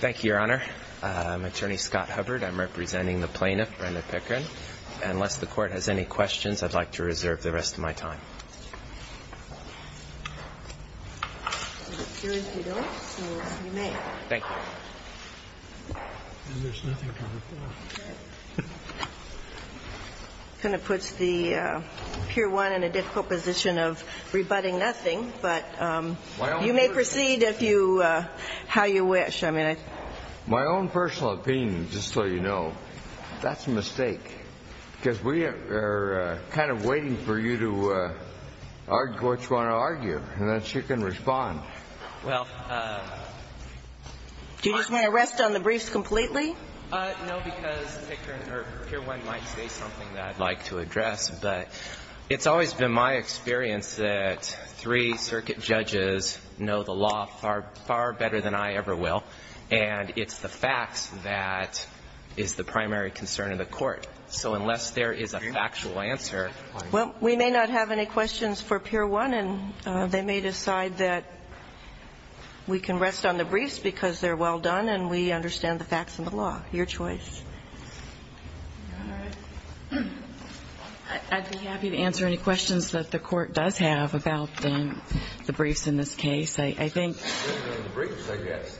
Thank you, Your Honor. I'm Attorney Scott Hubbard. I'm representing the plaintiff, Brenda Pickering. Unless the Court has any questions, I'd like to reserve the rest of my time. I'm sure if you don't, you may. Thank you. And there's nothing to report. It kind of puts Pier 1 in a difficult position of rebutting nothing, but you may proceed how you wish. My own personal opinion, just so you know, that's a mistake, because we are kind of waiting for you to argue what you want to argue, and then she can respond. Do you just want to rest on the briefs completely? No, because Pickering or Pier 1 might say something that I'd like to address. But it's always been my experience that three circuit judges know the law far, far better than I ever will. And it's the facts that is the primary concern of the Court. So unless there is a factual answer, I'm sorry. Well, we may not have any questions for Pier 1, and they may decide that we can rest on the briefs because they're well done, and we understand the facts and the law. Your choice. I'd be happy to answer any questions that the Court does have about the briefs in this case. The briefs, I guess.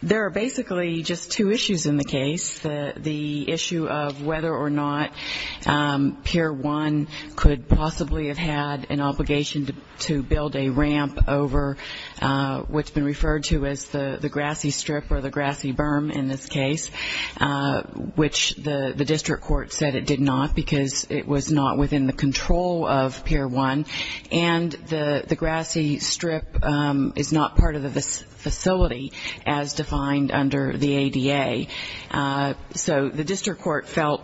There are basically just two issues in the case, the issue of whether or not Pier 1 could possibly have had an obligation to build a ramp over what's been referred to as the grassy strip or the grassy berm in this case, which the district court said it did not because it was not within the control of Pier 1, and the grassy strip is not part of the facility as defined under the ADA. So the district court felt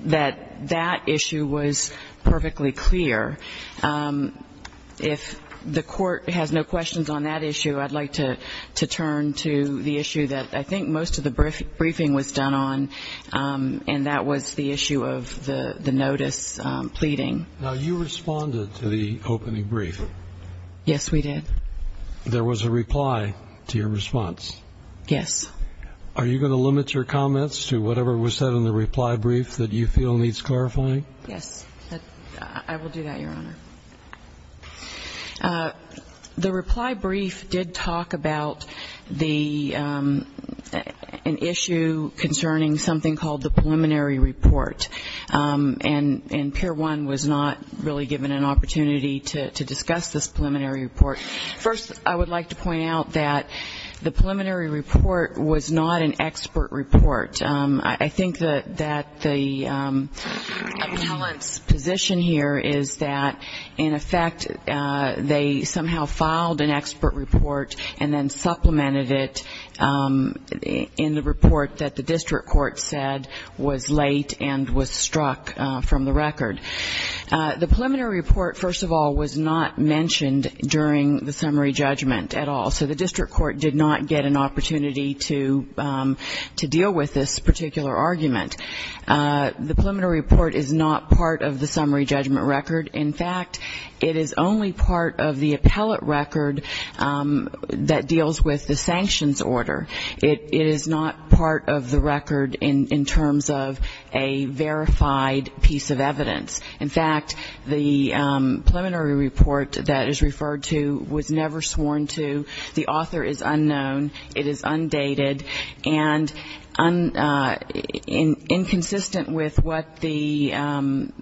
that that issue was perfectly clear. If the Court has no questions on that issue, I'd like to turn to the issue that I think most of the briefing was done on, and that was the issue of the notice pleading. Now, you responded to the opening brief. Yes, we did. There was a reply to your response. Yes. Are you going to limit your comments to whatever was said in the reply brief that you feel needs clarifying? Yes, I will do that, Your Honor. The reply brief did talk about an issue concerning something called the preliminary report, and Pier 1 was not really given an opportunity to discuss this preliminary report. First, I would like to point out that the preliminary report was not an expert report. I think that the appellant's position here is that, in effect, they somehow filed an expert report and then supplemented it in the report that the district court said was late and was struck from the record. The preliminary report, first of all, was not mentioned during the summary judgment at all, so the district court did not get an opportunity to deal with this particular argument. The preliminary report is not part of the summary judgment record. In fact, it is only part of the appellate record that deals with the sanctions order. It is not part of the record in terms of a verified piece of evidence. In fact, the preliminary report that is referred to was never sworn to. The author is unknown. It is undated. And inconsistent with what the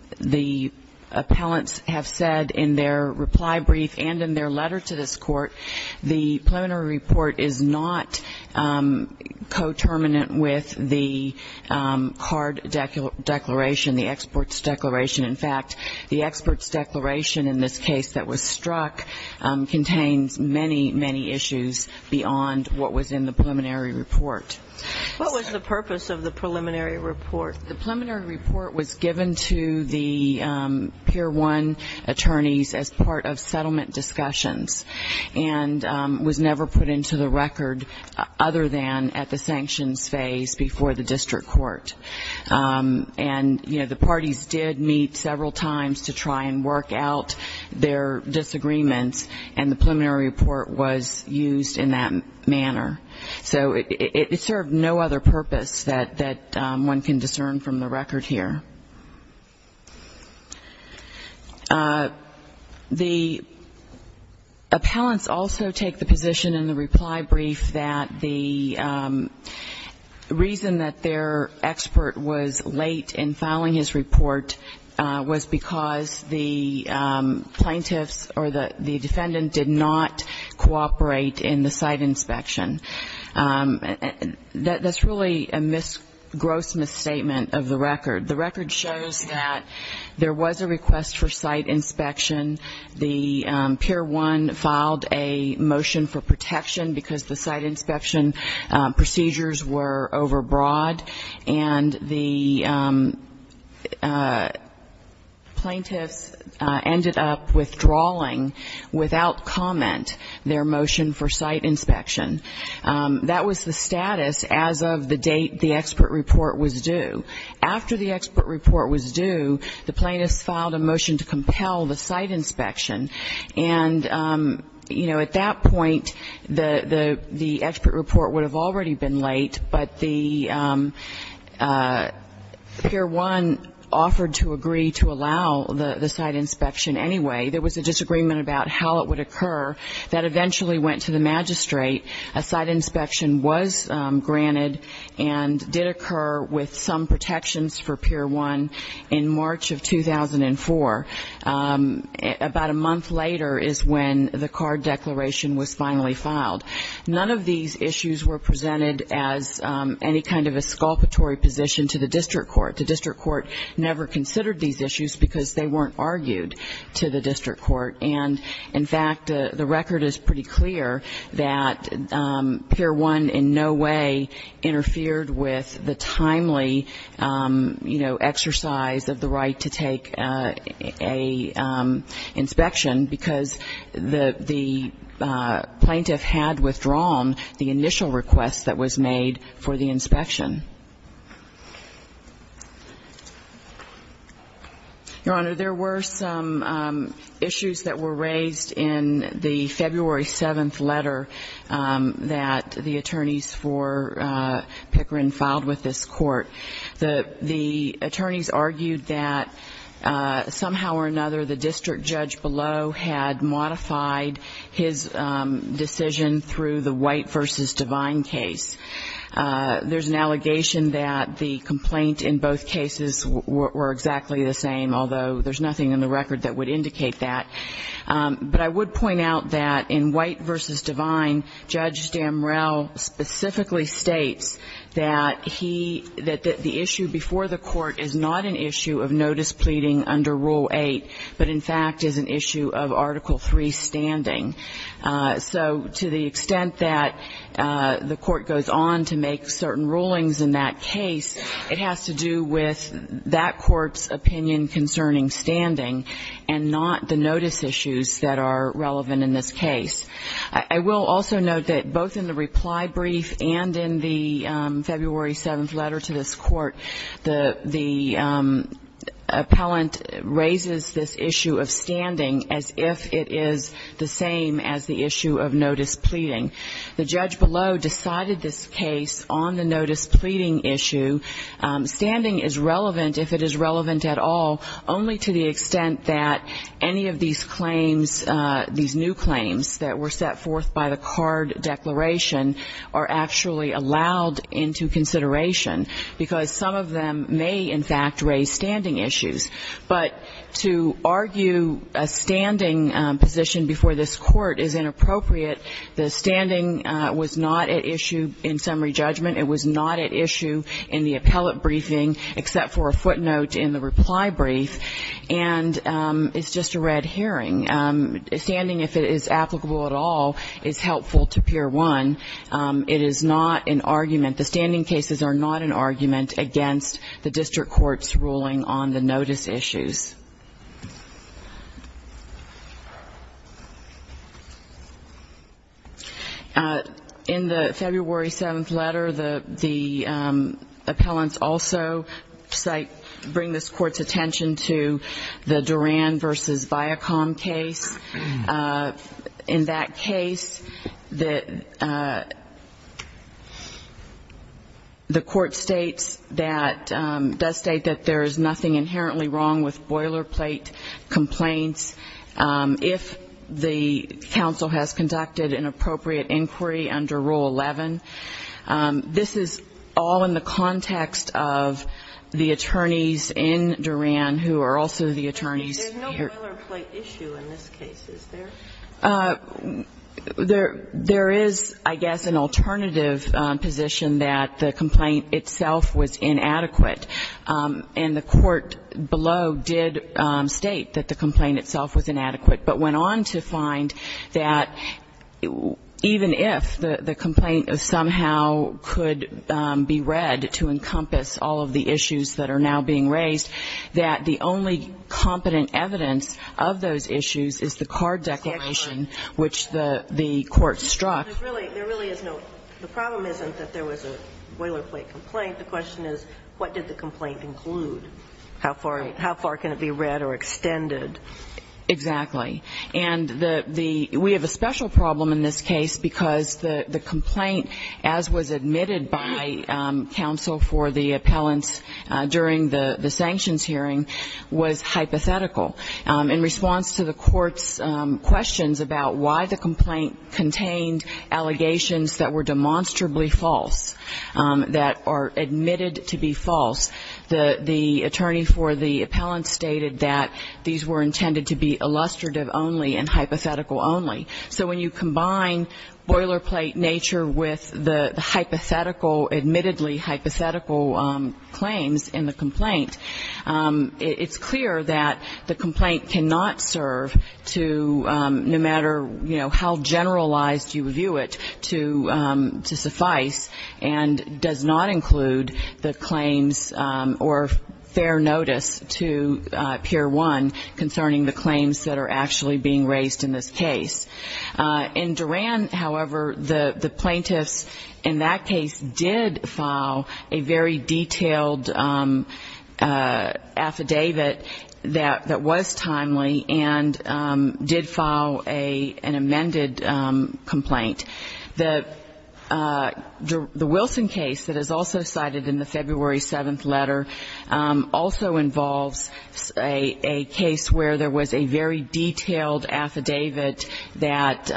appellants have said in their reply brief and in their letter to this court, the preliminary report is not coterminant with the card declaration, the exports declaration. In fact, the exports declaration in this case that was struck contains many, many issues beyond what was in the preliminary report. What was the purpose of the preliminary report? The preliminary report was given to the Pier 1 attorneys as part of settlement discussions. And was never put into the record other than at the sanctions phase before the district court. And, you know, the parties did meet several times to try and work out their disagreements, and the preliminary report was used in that manner. So it served no other purpose that one can discern from the record here. The appellants also take the position in the reply brief that the reason that their expert was late in filing his report was because the plaintiffs or the defendant did not cooperate in the site inspection. That's really a gross misstatement of the record. The record shows that there was a request for site inspection. The Pier 1 filed a motion for protection because the site inspection procedures were overbroad, and the plaintiffs ended up withdrawing without comment their motion for site inspection. That was the status as of the date the expert report was due. After the expert report was due, the plaintiffs filed a motion to compel the site inspection. And, you know, at that point, the expert report would have already been late, but the Pier 1 offered to agree to allow the site inspection anyway. There was a disagreement about how it would occur. That eventually went to the magistrate. A site inspection was granted and did occur with some protections for Pier 1 in March of 2004. About a month later is when the card declaration was finally filed. None of these issues were presented as any kind of a sculpture position to the district court. The district court never considered these issues because they weren't argued to the district court. And, in fact, the record is pretty clear that Pier 1 in no way interfered with the timely, you know, exercise of the right to take an inspection because the plaintiff had withdrawn the initial request that was made for the inspection. Your Honor, there were some issues that were raised in the February 7th letter that the attorneys for Pickering filed with this court. The attorneys argued that somehow or another the district judge below had modified his decision through the White v. Divine case. There's an allegation that the complaint in both cases were exactly the same, although there's nothing in the record that would indicate that. But I would point out that in White v. Divine, Judge Damrell specifically states that he – that the issue before the court is not an issue of notice pleading under Rule 8, but, in fact, is an issue of Article 3 standing. So to the extent that the court goes on to make certain rulings in that case, it has to do with that court's opinion concerning standing and not the notice issues that are relevant in this case. I will also note that both in the reply brief and in the February 7th letter to this court, the appellant raises this issue of standing as if it is the same as the issue of notice pleading. The judge below decided this case on the notice pleading issue. Standing is relevant, if it is relevant at all, only to the extent that any of these claims, these new claims that were set forth by the card declaration, are actually allowed into consideration because some of them may, in fact, raise standing issues. But to argue a standing position before this court is inappropriate. The standing was not at issue in summary judgment. It was not at issue in the appellate briefing except for a footnote in the reply brief. And it's just a red herring. Standing, if it is applicable at all, is helpful to Pier 1. It is not an argument. The standing cases are not an argument against the district court's ruling on the notice issues. In the February 7th letter, the appellants also cite, bring this court's attention to the Duran v. Viacom case. In that case, the court states that, does state that there is nothing inherently wrong with boilerplate complaints. If the counsel has conducted an appropriate inquiry under Rule 11, this is all in the context of the attorneys in Duran who are also the attorneys here. The boilerplate issue in this case, is there? There is, I guess, an alternative position that the complaint itself was inadequate. And the court below did state that the complaint itself was inadequate, but went on to find that even if the complaint somehow could be read to encompass all of the issues that are now being raised, that the only competent evidence of those issues is the card declaration, which the court struck. There really is no, the problem isn't that there was a boilerplate complaint. The question is, what did the complaint include? How far can it be read or extended? Exactly. And we have a special problem in this case because the complaint, as was admitted by counsel for the appellants during the sanctions hearing, was hypothetical. In response to the court's questions about why the complaint contained allegations that were demonstrably false, that are admitted to be false, the attorney for the appellant stated that these were intended to be illustrative only and hypothetical only. So when you combine boilerplate nature with the hypothetical, admittedly hypothetical claims in the complaint, it's clear that the complaint cannot serve to, no matter how generalized you view it, to suffice and does not include the claims or fair notice to Pier 1 concerning the claims that are actually being raised in this case. In Duran, however, the plaintiffs in that case did file a very detailed affidavit that was timely and did file an amended complaint. The Wilson case that is also cited in the February 7th letter also involves a case where there was a very detailed affidavit that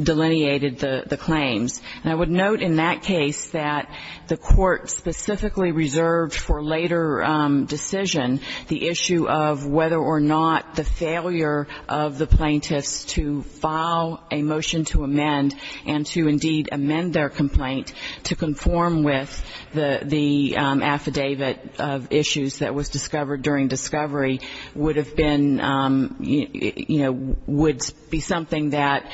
delineated the claims. And I would note in that case that the court specifically reserved for later decision the issue of whether or not the failure of the plaintiffs to file a motion to amend and to indeed amend their complaint to conform with the affidavit of issues that was discovered during discovery would have been, you know, would be something that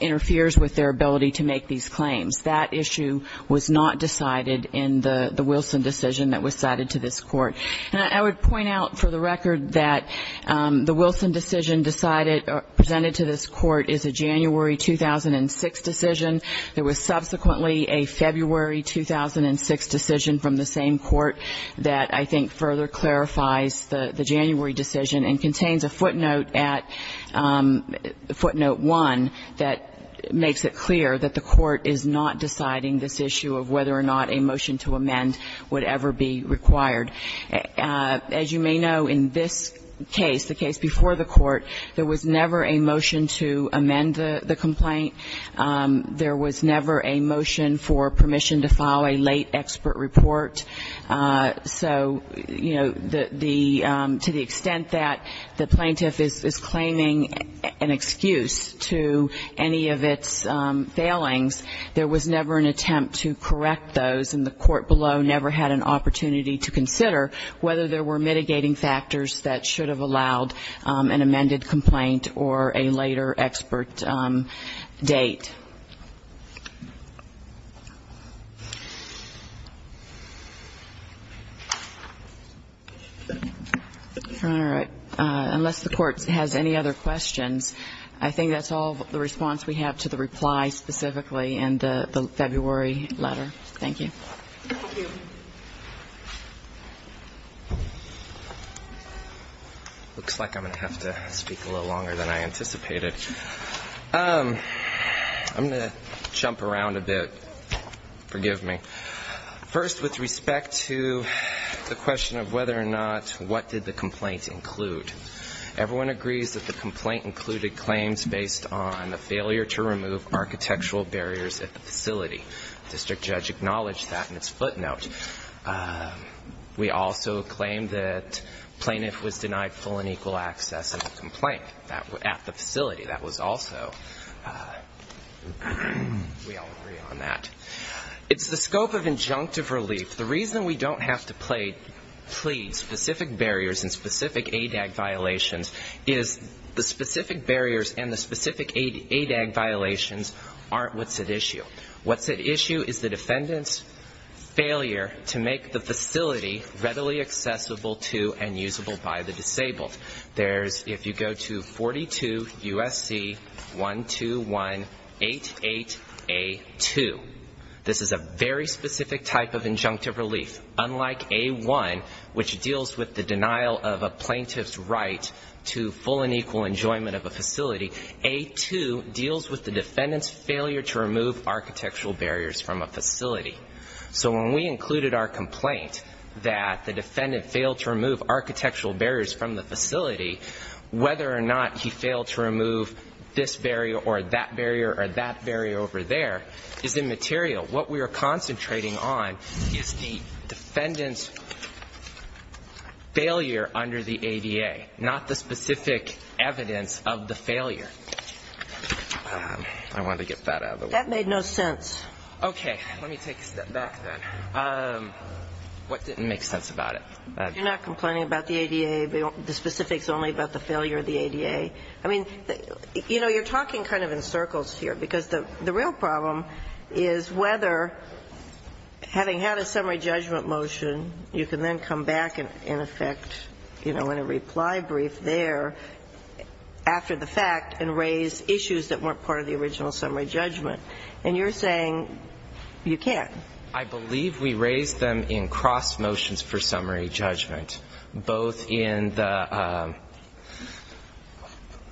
interferes with their ability to make these claims. That issue was not decided in the Wilson decision that was cited to this court. And I would point out for the record that the Wilson decision decided or presented to this court is a January 2006 decision. There was subsequently a February 2006 decision from the same court that I think further clarifies the January decision and contains a footnote at footnote 1 that makes it clear that the court is not deciding this issue of whether or not a motion to amend would ever be required. As you may know, in this case, the case before the court, there was never a motion to amend the complaint. There was never a motion for permission to file a late expert report. So, you know, the to the extent that the plaintiff is claiming an excuse to any of its failings, there was never an attempt to correct those, and the court below never had an opportunity to consider whether there were mitigating factors that should have allowed an amended complaint or a later expert date. All right. Unless the court has any other questions, I think that's all the response we have to the reply specifically in the February letter. Thank you. Thank you. Looks like I'm going to have to speak a little longer than I anticipated. I'm going to jump around a bit. Forgive me. First, with respect to the question of whether or not what did the complaint include, everyone agrees that the complaint included claims based on the failure to remove architectural barriers at the facility. The district judge acknowledged that in its footnote. We also claim that the plaintiff was denied full and equal access in the complaint at the facility. That was also, we all agree on that. It's the scope of injunctive relief. The reason we don't have to plead specific barriers and specific ADAG violations is the specific barriers and the specific ADAG violations aren't what's at issue. What's at issue is the defendant's failure to make the facility readily accessible to and usable by the disabled. There's, if you go to 42 U.S.C. 12188A2, this is a very specific type of injunctive relief. Unlike A1, which deals with the denial of a plaintiff's right to full and equal enjoyment of a facility, A2 deals with the defendant's failure to remove architectural barriers from a facility. So when we included our complaint that the defendant failed to remove architectural barriers from the facility, whether or not he failed to remove this barrier or that barrier or that barrier over there is immaterial. What we are concentrating on is the defendant's failure under the ADA, not the specific evidence of the failure. I wanted to get that out of the way. That made no sense. Okay. Let me take a step back then. What didn't make sense about it? You're not complaining about the ADA, the specifics only about the failure of the ADA. I mean, you know, you're talking kind of in circles here, because the real problem is whether, having had a summary judgment motion, you can then come back and, in effect, you know, in a reply brief there after the fact and raise issues that weren't part of the original summary judgment. And you're saying you can't. I believe we raised them in cross motions for summary judgment, both in the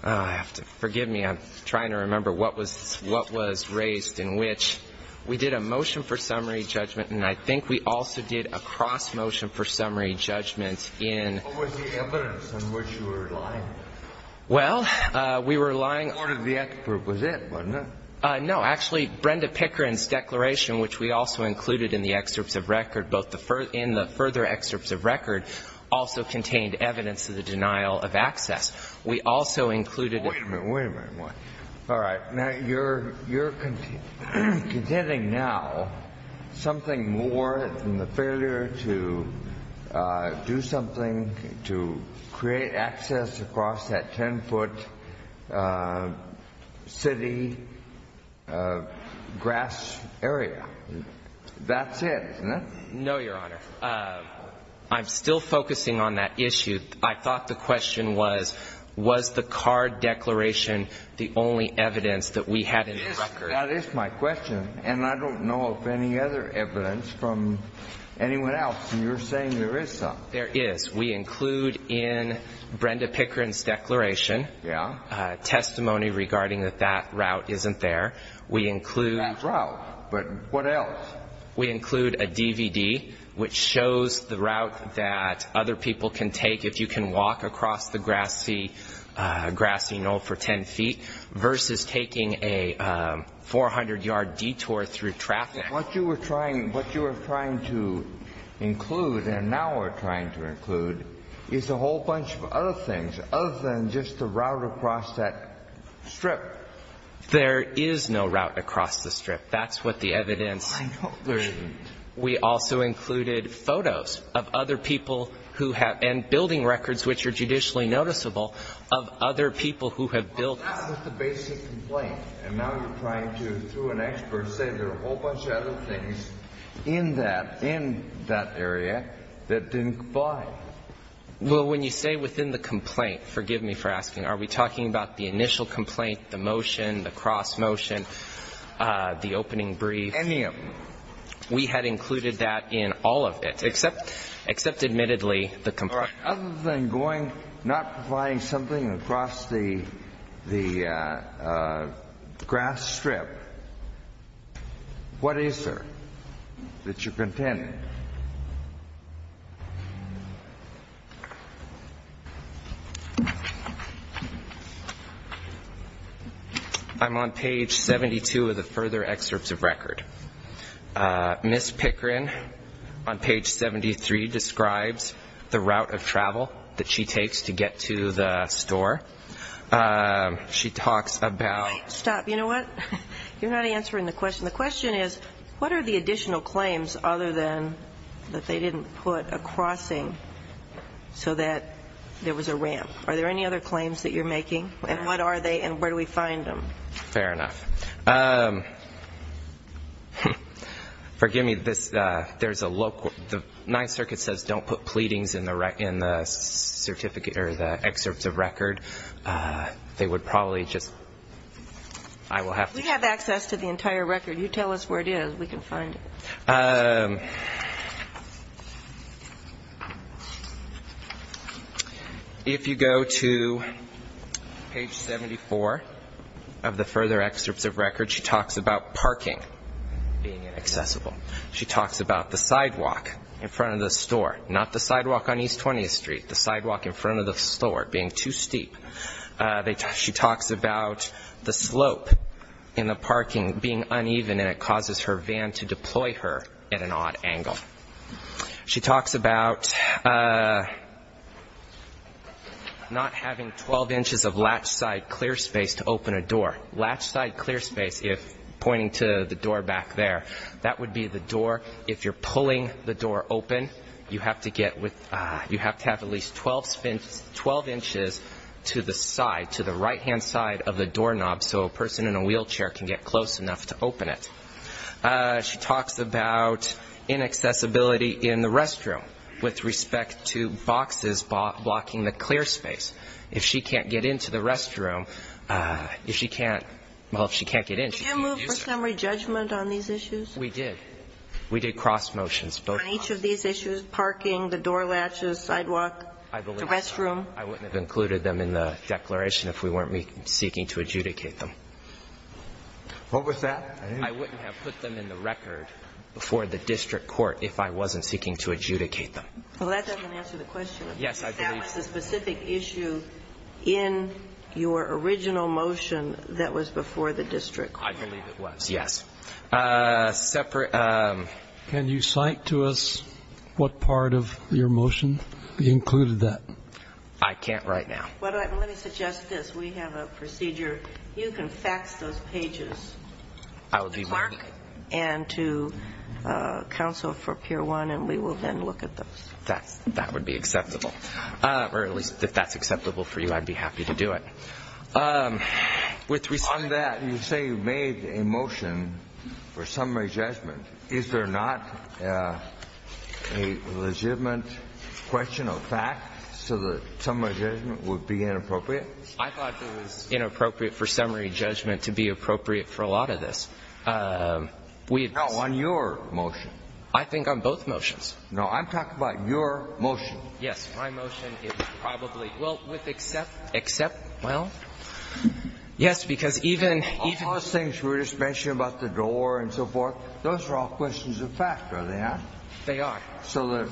‑‑ forgive me, I'm trying to remember what was raised in which. We did a motion for summary judgment, and I think we also did a cross motion for summary judgment in ‑‑ What was the evidence in which you were lying? Well, we were lying ‑‑ The court of the expert was it, wasn't it? No. Actually, Brenda Pickering's declaration, which we also included in the excerpts of record, both in the further excerpts of record, also contained evidence of the denial of access. We also included ‑‑ Wait a minute. Wait a minute. All right. All right. Now, you're contending now something more than the failure to do something to create access across that 10-foot city grass area. That's it, isn't it? No, Your Honor. I'm still focusing on that issue. I thought the question was, was the card declaration the only evidence that we had in the record? That is my question, and I don't know of any other evidence from anyone else, and you're saying there is some. There is. We include in Brenda Pickering's declaration testimony regarding that that route isn't there. We include ‑‑ That route. But what else? We include a DVD which shows the route that other people can take if you can walk across the grassy knoll for 10 feet versus taking a 400-yard detour through traffic. What you were trying to include and now are trying to include is a whole bunch of other things other than just the route across that strip. There is no route across the strip. That's what the evidence. I know. We also included photos of other people who have ‑‑ and building records, which are judicially noticeable, of other people who have built ‑‑ That was the basic complaint, and now you're trying to, through an expert, say there are a whole bunch of other things in that area that didn't comply. Are we talking about the initial complaint, the motion, the cross motion, the opening brief? Any of them. We had included that in all of it, except admittedly the complaint. Other than not providing something across the grass strip, what is there that you're contending? I'm on page 72 of the further excerpts of record. Ms. Pickering on page 73 describes the route of travel that she takes to get to the store. She talks about ‑‑ Stop. You know what? You're not answering the question. The question is, what are the additional claims other than that they didn't put a crossing so that there was a ramp? Are there any other claims that you're making, and what are they, and where do we find them? Fair enough. Forgive me. There's a local ‑‑ the Ninth Circuit says don't put pleadings in the certificate or the excerpts of record. They would probably just ‑‑ I will have to ‑‑ We have access to the entire record. You tell us where it is. We can find it. Okay. If you go to page 74 of the further excerpts of record, she talks about parking being inaccessible. She talks about the sidewalk in front of the store, not the sidewalk on East 20th Street, the sidewalk in front of the store being too steep. She talks about the slope in the parking being uneven, and it causes her van to deploy her at an odd angle. She talks about not having 12 inches of latch‑side clear space to open a door. Latch‑side clear space, if pointing to the door back there, that would be the door. If you're pulling the door open, you have to get with ‑‑ you have to have at least 12 inches to the side, to the right‑hand side of the doorknob so a person in a wheelchair can get close enough to open it. She talks about inaccessibility in the restroom with respect to boxes blocking the clear space. If she can't get into the restroom, if she can't ‑‑ well, if she can't get in, she can use them. Did you move for summary judgment on these issues? We did. We did cross motions. On each of these issues, parking, the door latches, sidewalk, the restroom? I believe so. I wouldn't have included them in the declaration if we weren't seeking to adjudicate them. What was that? I wouldn't have put them in the record before the district court if I wasn't seeking to adjudicate them. Well, that doesn't answer the question. Yes, I believe so. That was the specific issue in your original motion that was before the district court. I believe it was, yes. Separate ‑‑ Can you cite to us what part of your motion included that? I can't right now. Let me suggest this. We have a procedure. You can fax those pages to the clerk and to counsel for Pier 1, and we will then look at those. That would be acceptable. Or at least if that's acceptable for you, I'd be happy to do it. On that, you say you made a motion for summary judgment. Is there not a legitimate question of fact so that summary judgment would be inappropriate? I thought it was inappropriate for summary judgment to be appropriate for a lot of this. No, on your motion. I think on both motions. No, I'm talking about your motion. Yes, my motion is probably, well, with except, well, yes, because even ‑‑ All those things we were just mentioning about the door and so forth, those are all questions of fact, are they not? They are. So the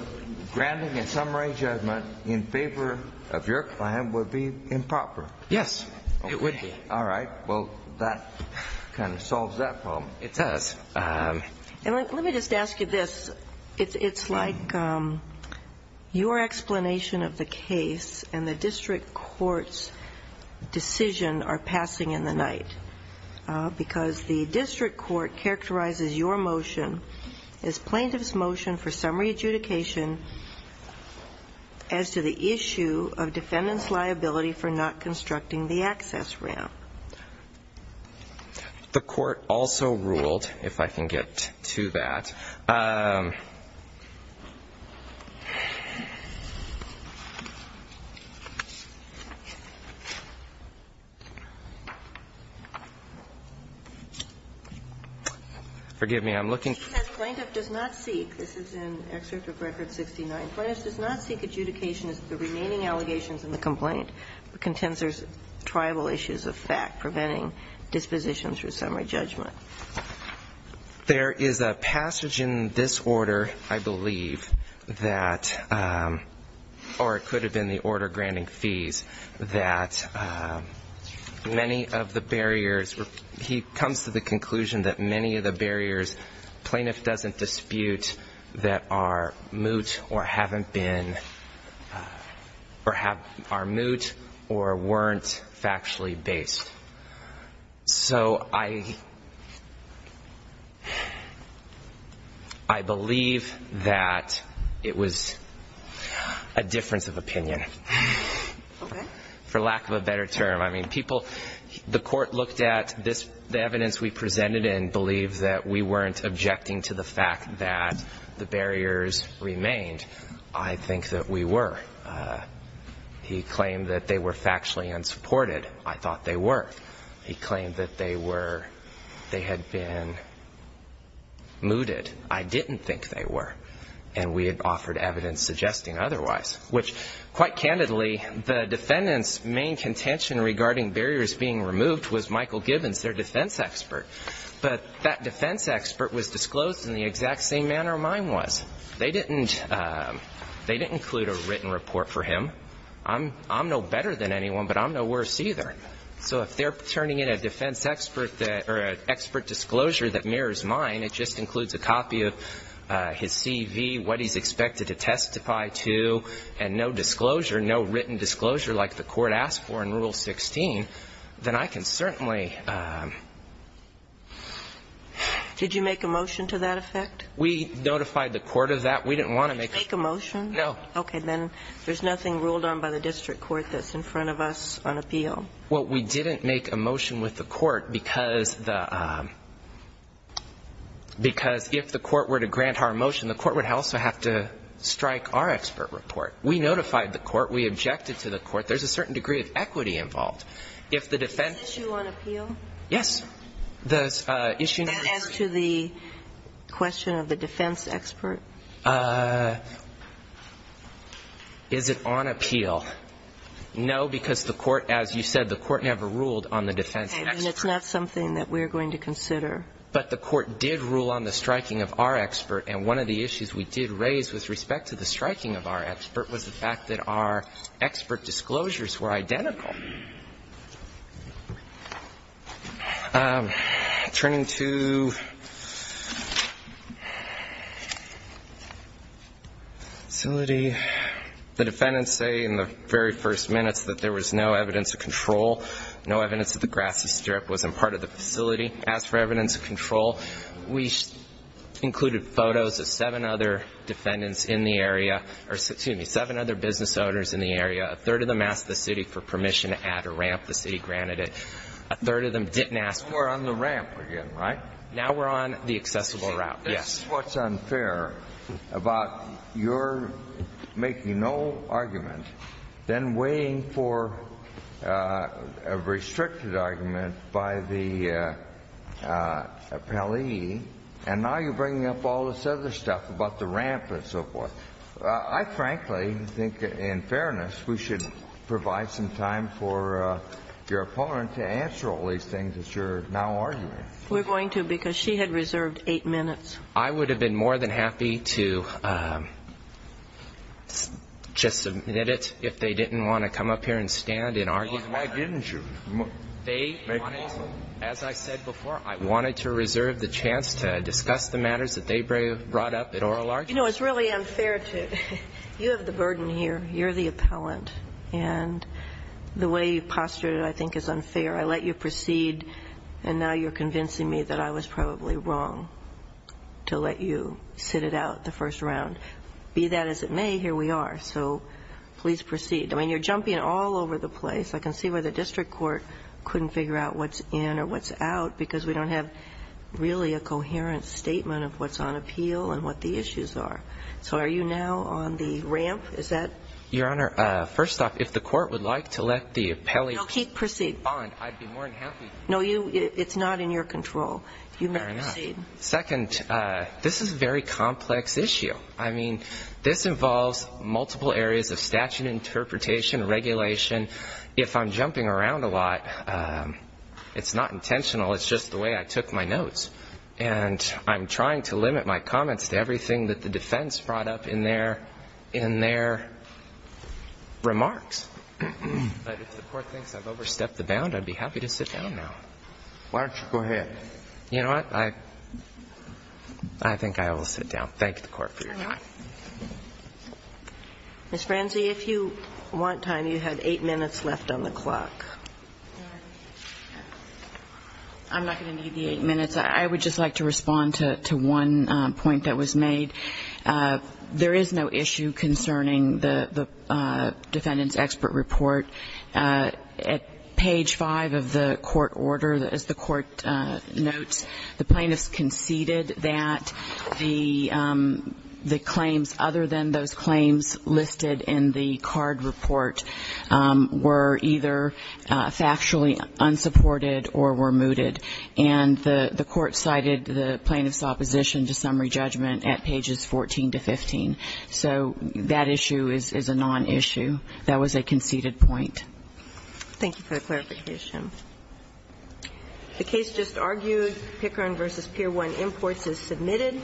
granting a summary judgment in favor of your client would be improper? Yes, it would be. All right. Well, that kind of solves that problem. It does. And let me just ask you this. It's like your explanation of the case and the district court's decision are passing in the night, because the district court characterizes your motion as plaintiff's motion for summary adjudication as to the issue of defendant's liability for not constructing the access ramp. The court also ruled, if I can get to that ‑‑ Forgive me, I'm looking ‑‑ Plaintiff does not seek, this is in Excerpt of Record 69, plaintiff does not seek adjudication as to the remaining allegations in the complaint, but contends there's tribal issues of fact preventing dispositions for summary judgment. There is a passage in this order, I believe, that, or it could have been the order granting fees, that many of the barriers, he comes to the conclusion that many of the barriers plaintiff doesn't dispute that are moot or haven't been, or are moot or weren't factually based. So I believe that it was a difference of opinion. Okay. For lack of a better term. I mean, people, the court looked at this, the evidence we presented and believed that we weren't objecting to the fact that the barriers remained. I think that we were. He claimed that they were factually unsupported. I thought they were. He claimed that they were ‑‑ they had been mooted. I didn't think they were. And we had offered evidence suggesting otherwise. Which quite candidly, the defendant's main contention regarding barriers being removed was Michael Gibbons, their defense expert. But that defense expert was disclosed in the exact same manner mine was. They didn't ‑‑ they didn't include a written report for him. I'm no better than anyone, but I'm no worse either. So if they're turning in a defense expert that, or an expert disclosure that mirrors mine, it just includes a copy of his CV, what he's expected to testify to, and no disclosure, no written disclosure like the court asked for in Rule 16, then I can certainly ‑‑ Did you make a motion to that effect? We notified the court of that. We didn't want to make a ‑‑ Did you make a motion? No. Okay. Then there's nothing ruled on by the district court that's in front of us on appeal. Well, we didn't make a motion with the court because the ‑‑ because if the court were to grant our motion, the court would also have to strike our expert report. We notified the court. We objected to the court. There's a certain degree of equity involved. If the defense ‑‑ Is this issue on appeal? Yes. The issue ‑‑ As to the question of the defense expert? Is it on appeal? No, because the court, as you said, the court never ruled on the defense expert. Okay. Then it's not something that we're going to consider. But the court did rule on the striking of our expert, and one of the issues we did with respect to the striking of our expert was the fact that our expert disclosures were identical. Turning to facility, the defendants say in the very first minutes that there was no evidence of control, no evidence that the grassy strip wasn't part of the facility. As for evidence of control, we included photos of seven other defendants in the area, or, excuse me, seven other business owners in the area. A third of them asked the city for permission to add a ramp. The city granted it. A third of them didn't ask for ‑‑ We're on the ramp again, right? Now we're on the accessible route, yes. This is what's unfair about your making no argument, then waiting for a restricted argument by the appellee, and now you're bringing up all this other stuff about the ramp and so forth. I frankly think in fairness we should provide some time for your opponent to answer all these things that you're now arguing. We're going to, because she had reserved eight minutes. I would have been more than happy to just submit it if they didn't want to come up here and stand and argue. Why didn't you? They wanted, as I said before, I wanted to reserve the chance to discuss the matters that they brought up at oral argument. You know, it's really unfair to ‑‑ you have the burden here. You're the appellant, and the way you've postured it I think is unfair. I let you proceed, and now you're convincing me that I was probably wrong to let you sit it out the first round. Be that as it may, here we are, so please proceed. I mean, you're jumping all over the place. I can see why the district court couldn't figure out what's in or what's out, because we don't have really a coherent statement of what's on appeal and what the issues are. So are you now on the ramp? Is that ‑‑ Your Honor, first off, if the court would like to let the appellate ‑‑ No, keep proceeding. ‑‑ I'd be more than happy. No, it's not in your control. You may proceed. Fair enough. Second, this is a very complex issue. I mean, this involves multiple areas of statute interpretation, regulation. If I'm jumping around a lot, it's not intentional. It's just the way I took my notes. And I'm trying to limit my comments to everything that the defense brought up in their remarks. But if the court thinks I've overstepped the bound, I'd be happy to sit down now. Why don't you go ahead? You know what? I think I will sit down. Thank you, court, for your time. Ms. Franze, if you want time, you have eight minutes left on the clock. I'm not going to need the eight minutes. I would just like to respond to one point that was made. There is no issue concerning the defendant's expert report. At page 5 of the court order, as the court notes, the plaintiffs conceded that the claims, other than those claims listed in the card report, were either factually unsupported or were mooted. And the court cited the plaintiffs' opposition to summary judgment at pages 14 to 15. So that issue is a non-issue. That was a conceded point. Thank you for the clarification. The case just argued, Pickering v. Pier 1 Imports is submitted.